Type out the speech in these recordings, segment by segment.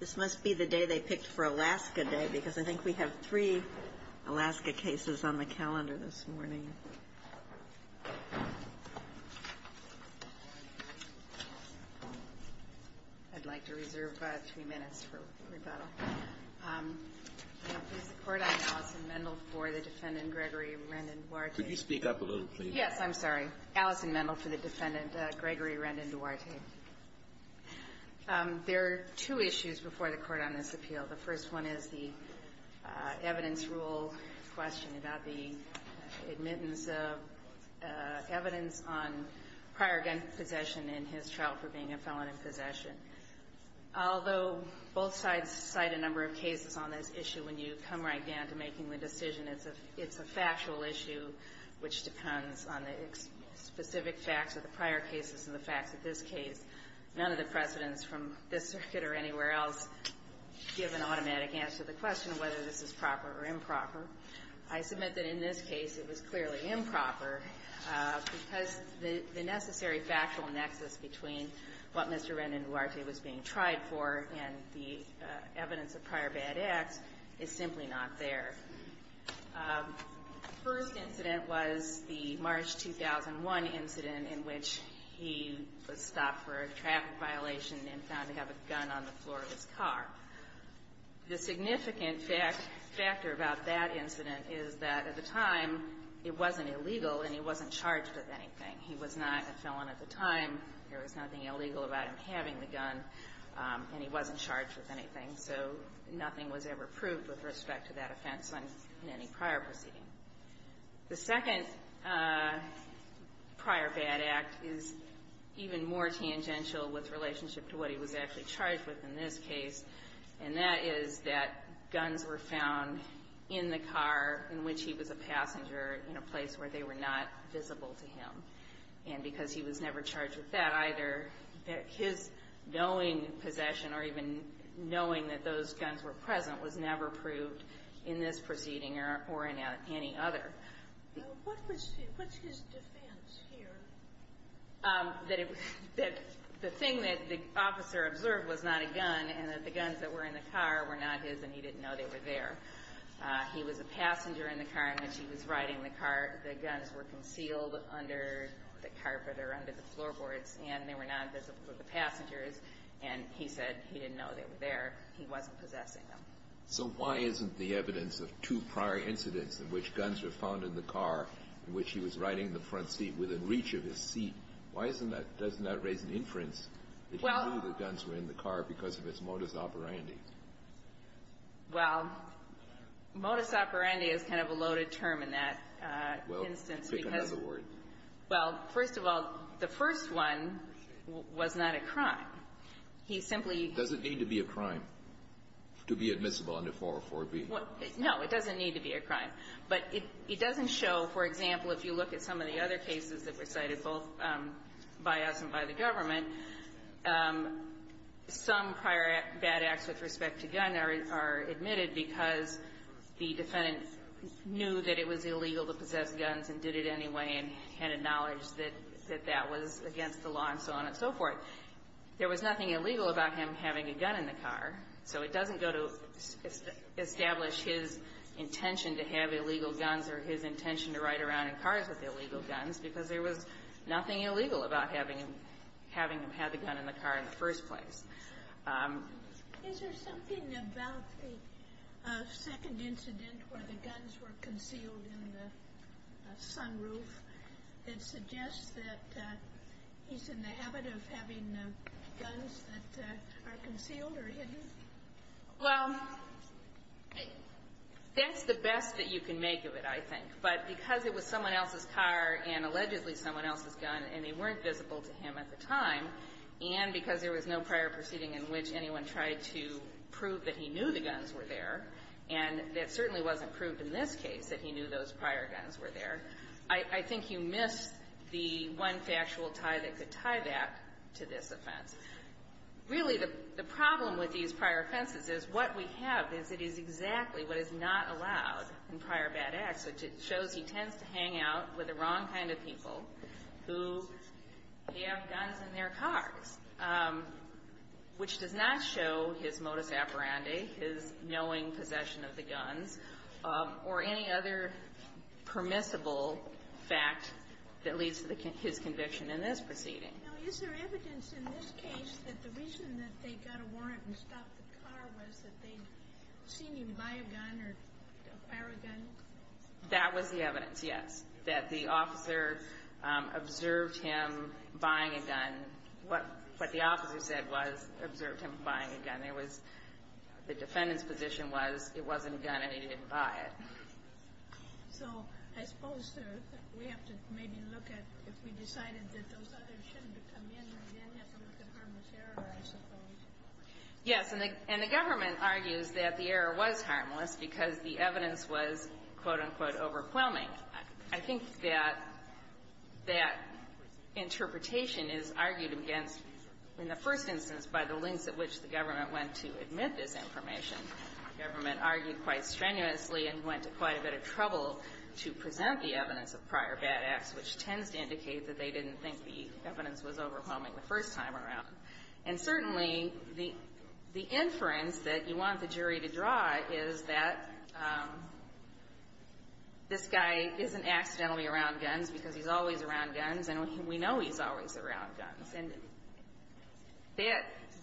This must be the day they picked for Alaska Day because I think we have three Alaska cases on the calendar this morning. I'd like to reserve three minutes for rebuttal. Could you speak up a little, please? Yes, I'm sorry. Allison Mendel for the defendant, Gregory Rendon-Duarte. There are two issues before the Court on this appeal. The first one is the evidence rule question about the admittance of evidence on prior gun possession in his trial for being a felon in possession. Although both sides cite a number of cases on this issue, when you come right down to making the decision, it's a factual issue which depends on the specific facts of the prior cases and the facts of this case. None of the precedents from this circuit or anywhere else give an automatic answer to the question of whether this is proper or improper. I submit that in this case, it was clearly improper because the necessary factual nexus between what Mr. Rendon-Duarte was being tried for and the evidence of prior bad acts is simply not there. The first incident was the March 2001 incident in which he was stopped for a traffic violation and found to have a gun on the floor of his car. The significant factor about that incident is that at the time, it wasn't illegal and he wasn't charged with anything. He was not a felon at the time. There was nothing illegal about him having the gun, and he wasn't charged with anything. So nothing was ever proved with respect to that offense in any prior proceeding. The second prior bad act is even more tangential with relationship to what he was actually charged with in this case, and that is that guns were found in the car in which he was a passenger in a place where they were not visible to him. And because he was never charged with that either, his knowing possession or even knowing that those guns were present was never proved in this proceeding or in any other. What's his defense here? That the thing that the officer observed was not a gun and that the guns that were in the car were not his and he didn't know they were there. He was a passenger in the car in which he was riding the car. The guns were concealed under the carpet or under the floorboards, and they were not visible to the passengers, and he said he didn't know they were there. He wasn't possessing them. So why isn't the evidence of two prior incidents in which guns were found in the car in which he was riding the front seat within reach of his seat, why isn't that doesn't that raise an inference that he knew the guns were in the car because of his modus operandi? Well, modus operandi is kind of a loaded term in that instance because of the word. Well, first of all, the first one was not a crime. He simply --- No, it doesn't need to be a crime. But it doesn't show, for example, if you look at some of the other cases that were cited both by us and by the government, some prior bad acts with respect to gun are admitted because the defendant knew that it was illegal to possess guns and did it anyway and had a knowledge that that was against the law and so on and so forth. There was nothing illegal about him having a gun in the car, so it doesn't go to establish his intention to have illegal guns or his intention to ride around in cars with illegal guns because there was nothing illegal about having him have the gun in the car in the first place. Is there something about the second incident where the guns were concealed in the sunroof that suggests that he's in the habit of having guns that are concealed or hidden? Well, that's the best that you can make of it, I think. But because it was someone else's car and allegedly someone else's gun and they weren't visible to him at the time, and because there was no prior proceeding in which anyone tried to prove that he knew the guns were there, and that certainly wasn't proved in this case that he knew those prior guns were there, I think you missed the one factual tie that could tie that to this offense. Really, the problem with these prior offenses is what we have is it is exactly what is not allowed in prior bad acts. It shows he tends to hang out with the wrong kind of people who have guns in their cars, which does not show his modus operandi, his knowing possession of the guns, or any other permissible fact that leads to his conviction in this proceeding. Now, is there evidence in this case that the reason that they got a warrant and stopped the car was that they'd seen him buy a gun or fire a gun? That was the evidence, yes, that the officer observed him buying a gun. What the officer said was observed him buying a gun. The defendant's position was it wasn't a gun and he didn't buy it. So I suppose we have to maybe look at if we decided that those others shouldn't have come in, we then have to look at harmless error, I suppose. Yes. And the government argues that the error was harmless because the evidence was, quote, unquote, overwhelming. I think that that interpretation is argued against, in the first instance, by the lengths at which the government went to admit this information. The government argued quite strenuously and went to quite a bit of trouble to present the evidence of prior bad acts, which tends to indicate that they didn't think the evidence was overwhelming the first time around. And certainly, the inference that you want the jury to draw is that this guy isn't accidentally around guns because he's always around guns, and we know he's always around guns. And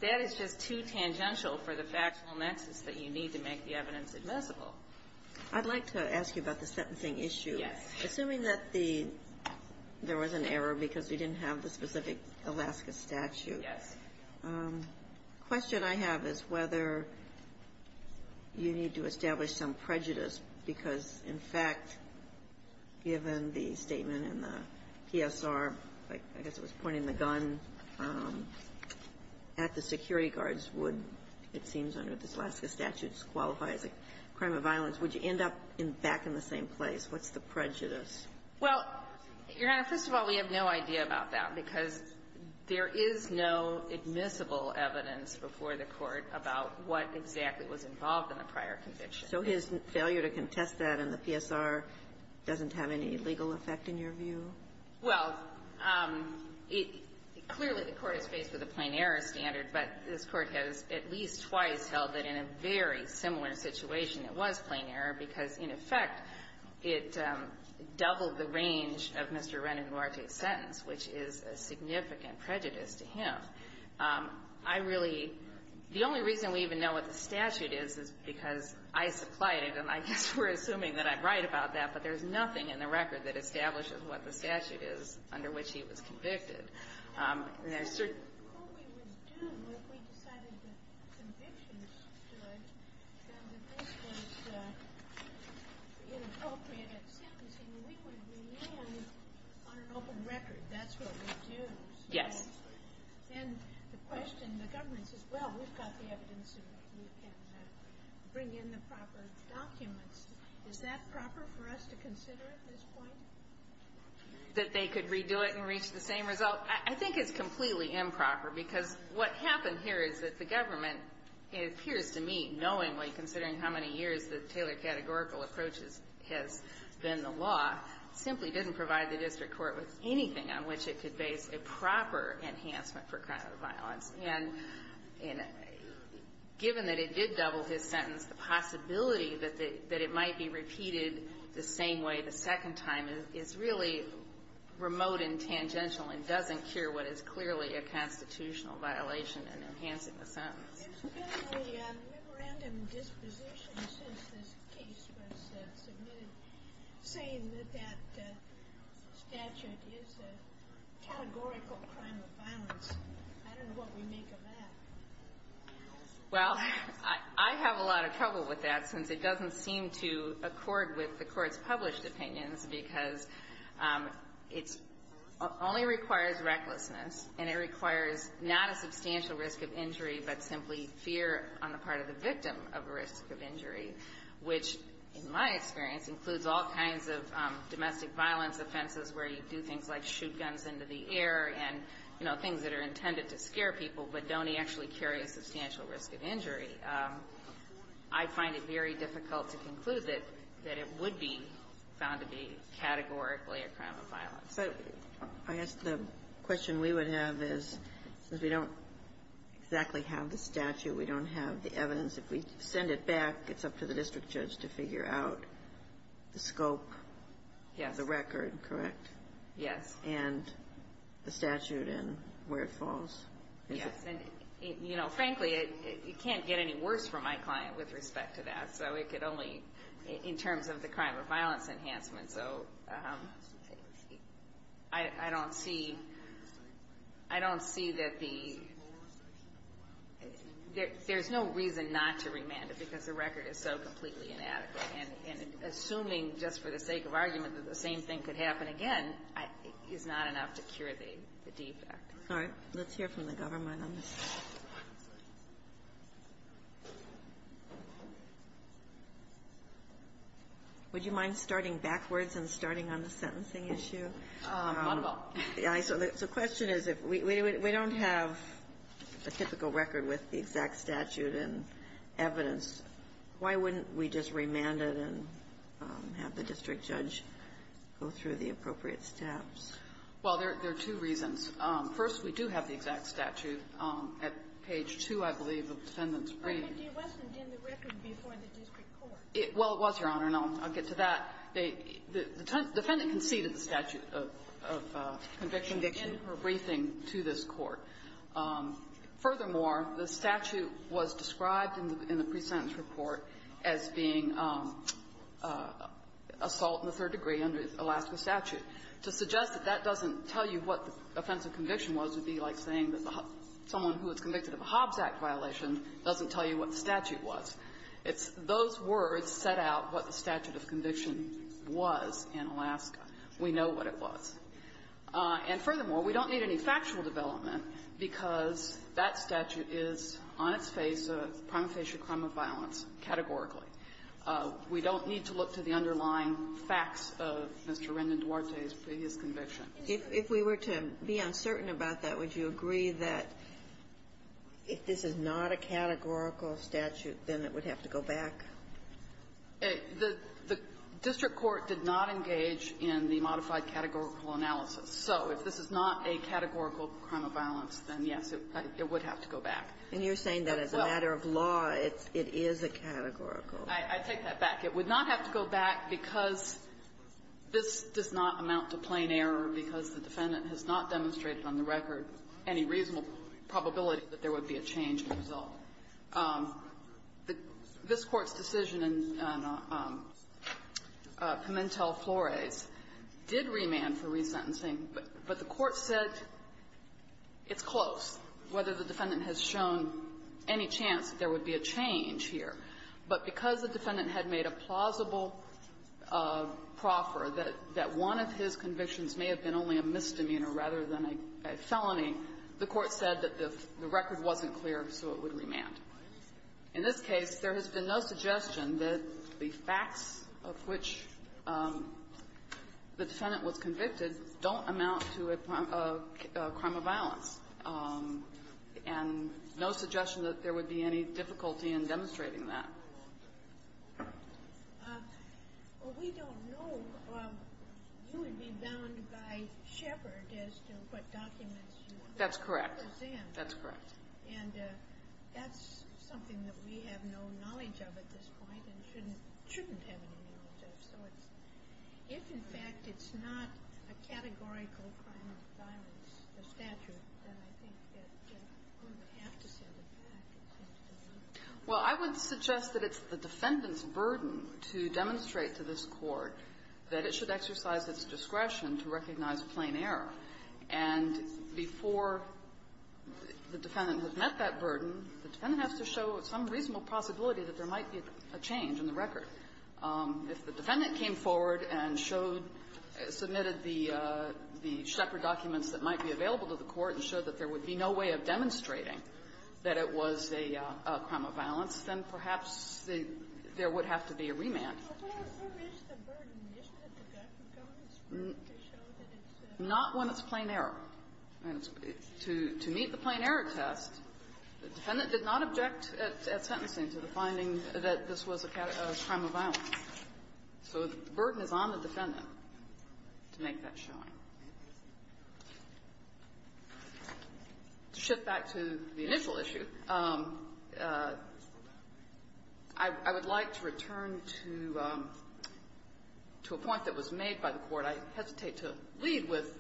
that is just too tangential for the factual nexus that you need to make the evidence admissible. I'd like to ask you about the sentencing issue. Yes. Assuming that the – there was an error because we didn't have the specific Alaska statute. Yes. The question I have is whether you need to establish some prejudice because, in fact, given the statement in the PSR, I guess it was pointing the gun at the security guards, would, it seems under the Alaska statutes, qualify as a crime of violence. Would you end up back in the same place? What's the prejudice? Well, Your Honor, first of all, we have no idea about that because there is no admissible evidence before the Court about what exactly was involved in the prior conviction. So his failure to contest that in the PSR doesn't have any legal effect in your view? Well, it – clearly, the Court is faced with a plain error standard, but this Court has at least twice held that in a very similar situation, it was plain error because in effect, it doubled the range of Mr. Ren and Duarte's sentence, which is a significant prejudice to him. I really – the only reason we even know what the statute is is because I supplied it, and I guess we're assuming that I'm right about that, but there's nothing in the record that establishes what the statute is under which he was convicted. And there's certain – What we would do if we decided that convictions stood and that this was inappropriate sentencing, we would remain on an open record. That's what we'd do. Yes. And the question, the government says, well, we've got the evidence and we can bring in the proper documents. Is that proper for us to consider at this point? That they could redo it and reach the same result? I think it's completely improper because what happened here is that the government appears to me, knowingly, considering how many years the Taylor categorical approach has been the law, simply didn't provide the district court with anything on which it could base a proper enhancement for crime and violence. And given that it did double his sentence, the possibility that it might be repeated the same way the second time is really remote and tangential and doesn't cure what is clearly a constitutional violation in enhancing the sentence. Well, there's been a memorandum disposition since this case was submitted saying that that statute is a categorical crime of violence. I don't know what we make of that. Well, I have a lot of trouble with that since it doesn't seem to accord with the court's published opinions because it only requires recklessness and it requires not a substantial risk of injury, but simply fear on the part of the victim of a risk of injury, which in my experience includes all kinds of domestic violence offenses where you do things like shoot guns into the air and, you know, things that are intended to scare people but don't actually carry a substantial risk of injury. I find it very difficult to conclude that it would be found to be categorically a crime of violence. So I guess the question we would have is, since we don't exactly have the statute, we don't have the evidence, if we send it back, it's up to the district judge to figure out the scope, the record, correct? Yes. And the statute and where it falls? Yes. And, you know, frankly, it can't get any worse for my client with respect to that. So it could only, in terms of the crime of violence enhancement. So I don't see that the – there's no reason not to remand it because the record is so completely inadequate, and assuming just for the sake of argument that the same thing could happen again is not enough to cure the defect. All right. Let's hear from the government on this. Would you mind starting backwards and starting on the sentencing issue? So the question is, if we don't have a typical record with the exact statute and evidence, why wouldn't we just remand it and have the district judge go through the appropriate steps? Well, there are two reasons. First, we do have the exact statute at page 2, I believe, of the defendant's briefing. But it wasn't in the record before the district court. Well, it was, Your Honor, and I'll get to that. The defendant conceded the statute of conviction in her briefing to this Court. Furthermore, the statute was described in the pre-sentence report as being assault in the third degree under Alaska statute. To suggest that that doesn't tell you what the offense of conviction was would be like saying that someone who was convicted of a Hobbs Act violation doesn't tell you what the statute was. It's those words set out what the statute of conviction was in Alaska. We know what it was. And furthermore, we don't need any factual development because that statute is on its face a prime facie crime of violence categorically. We don't need to look to the underlying facts of Mr. Rendon Duarte's previous conviction. If we were to be uncertain about that, would you agree that if this is not a categorical statute, then it would have to go back? The district court did not engage in the modified categorical analysis. So if this is not a categorical crime of violence, then, yes, it would have to go back. And you're saying that as a matter of law, it's – it is a categorical. I take that back. It would not have to go back because this does not amount to plain error, because the defendant has not demonstrated on the record any reasonable probability that there would be a change in the result. This Court's decision in Pimentel-Flores did remand for resentencing, but the Court said it's close, whether the defendant has shown any chance that there would be a change here. But because the defendant had made a plausible proffer that one of his convictions may have been only a misdemeanor rather than a felony, the Court said that the record wasn't clear, so it would remand. In this case, there has been no suggestion that the facts of which the defendant was convicted don't amount to a crime of violence, and no suggestion that there would be any difficulty in demonstrating that. Well, we don't know. You would be bound by Shepard as to what documents you present. That's correct. That's correct. And that's something that we have no knowledge of at this point and shouldn't have any knowledge of. So it's – if, in fact, it's not a categorical crime of violence, the statute, then I think that you would have to set it back. Well, I would suggest that it's the defendant's burden to demonstrate to this Court that it should exercise its discretion to recognize plain error. And before the defendant has met that burden, the defendant has to show some reasonable possibility that there might be a change in the record. If the defendant came forward and showed – submitted the Shepard documents that might be available to the Court and showed that there would be no way of demonstrating that it was a crime of violence, then perhaps there would have to be a remand. But what if there is the burden, isn't it the government's burden to show that it's a – Not when it's plain error. To meet the plain-error test, the defendant did not object at sentencing to the finding that this was a crime of violence. So the burden is on the defendant to make that showing. To shift back to the initial issue, I would like to return to a point that was made by the Court. I hesitate to lead with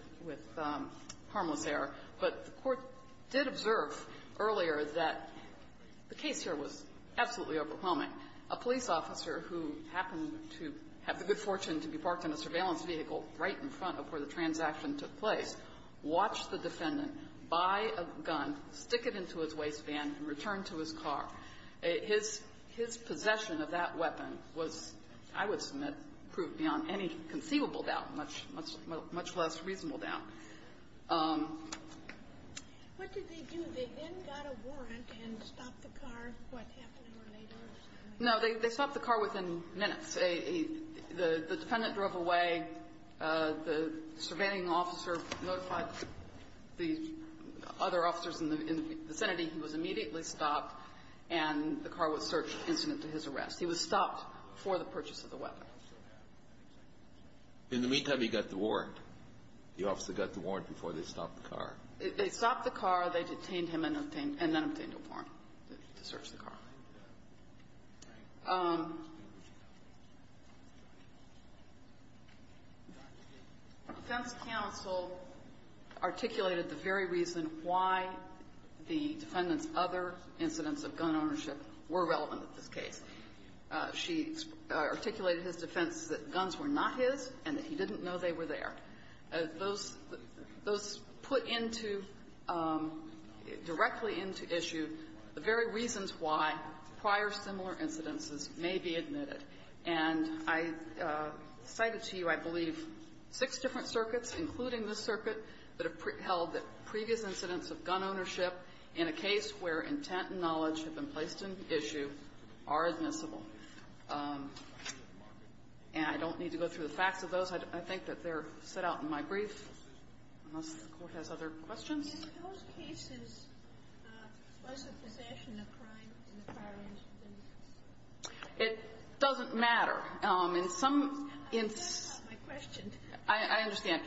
harmless error, but the Court did observe earlier that the A police officer who happened to have the good fortune to be parked in a surveillance vehicle right in front of where the transaction took place watched the defendant buy a gun, stick it into his waistband, and return to his car. His – his possession of that weapon was, I would submit, proved beyond any conceivable doubt, much – much less reasonable doubt. What did they do? They then got a warrant and stopped the car what happened here later? No, they stopped the car within minutes. The defendant drove away. The surveilling officer notified the other officers in the vicinity. He was immediately stopped, and the car was searched incident to his arrest. He was stopped before the purchase of the weapon. In the meantime, he got the warrant. The officer got the warrant before they stopped the car. They stopped the car. They detained him and obtained – and then obtained a warrant to search the car. The defense counsel articulated the very reason why the defendant's other incidents of gun ownership were relevant in this case. She articulated his defense that guns were not his and that he didn't know they were there. Those – those put into – directly into issue the very reasons why prior similar incidences may be admitted. And I cited to you, I believe, six different circuits, including this circuit, that have held that previous incidents of gun ownership in a case where intent and knowledge have been placed in issue are admissible. And I don't need to go through the facts of those. I think that they're set out in my brief, unless the Court has other questions. In those cases, was the possession a crime in the prior incident? It doesn't matter. In some – in some – I understand.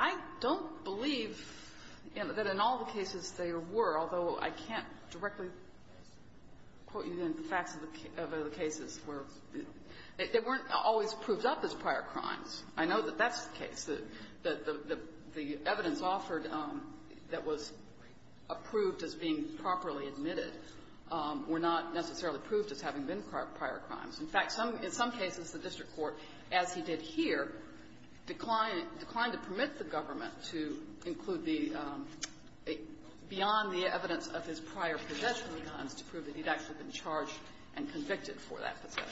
I don't believe that in all the cases there were, although I can't directly quote you in the facts of the cases where – they weren't always proved up as prior crimes. I know that that's the case, that the evidence offered that was approved as being properly admitted were not necessarily proved as having been prior crimes. In fact, some – in some cases, the district court, as he did here, declined to permit the government to include the – beyond the evidence of his prior possession of guns to prove that he'd actually been charged and convicted for that possession.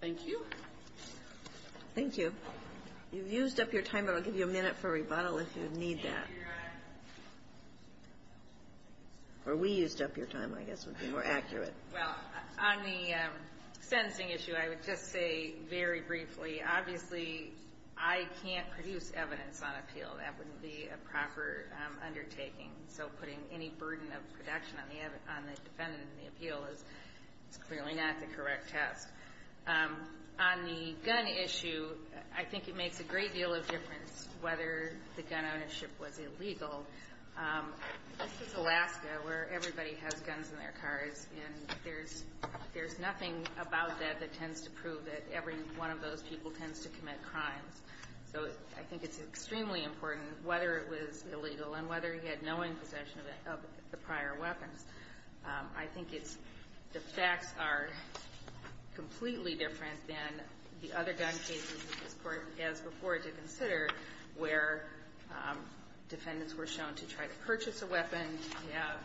Thank you. Kagan. You've used up your time, but I'll give you a minute for rebuttal if you need that. Or we used up your time, I guess, would be more accurate. Well, on the sentencing issue, I would just say very briefly, obviously, I can't produce evidence on appeal. That wouldn't be a proper undertaking. So putting any burden of production on the defendant in the appeal is clearly not the correct test. On the gun issue, I think it makes a great deal of difference whether the gun ownership was illegal. This is Alaska, where everybody has guns in their cars, and there's – there's nothing about that that tends to prove that every one of those people tends to commit crimes. So I think it's extremely important, whether it was illegal and whether he had no in possession of the prior weapons, I think it's – the facts are completely different than the other gun cases in this Court, as before, to consider, where defendants were shown to try to purchase a weapon, to have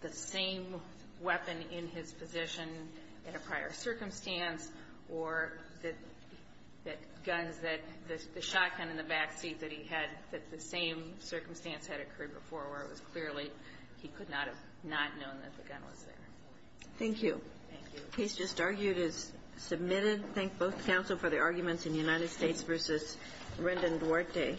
the same weapon in his position in a prior circumstance, or that guns that – the shotgun in the backseat that he had, that the same circumstance had occurred before, where it was clearly he could not have not known that the gun was there. Thank you. Thank you. The case just argued is submitted. Thank both counsel for their arguments in United States v. Rendon Duarte.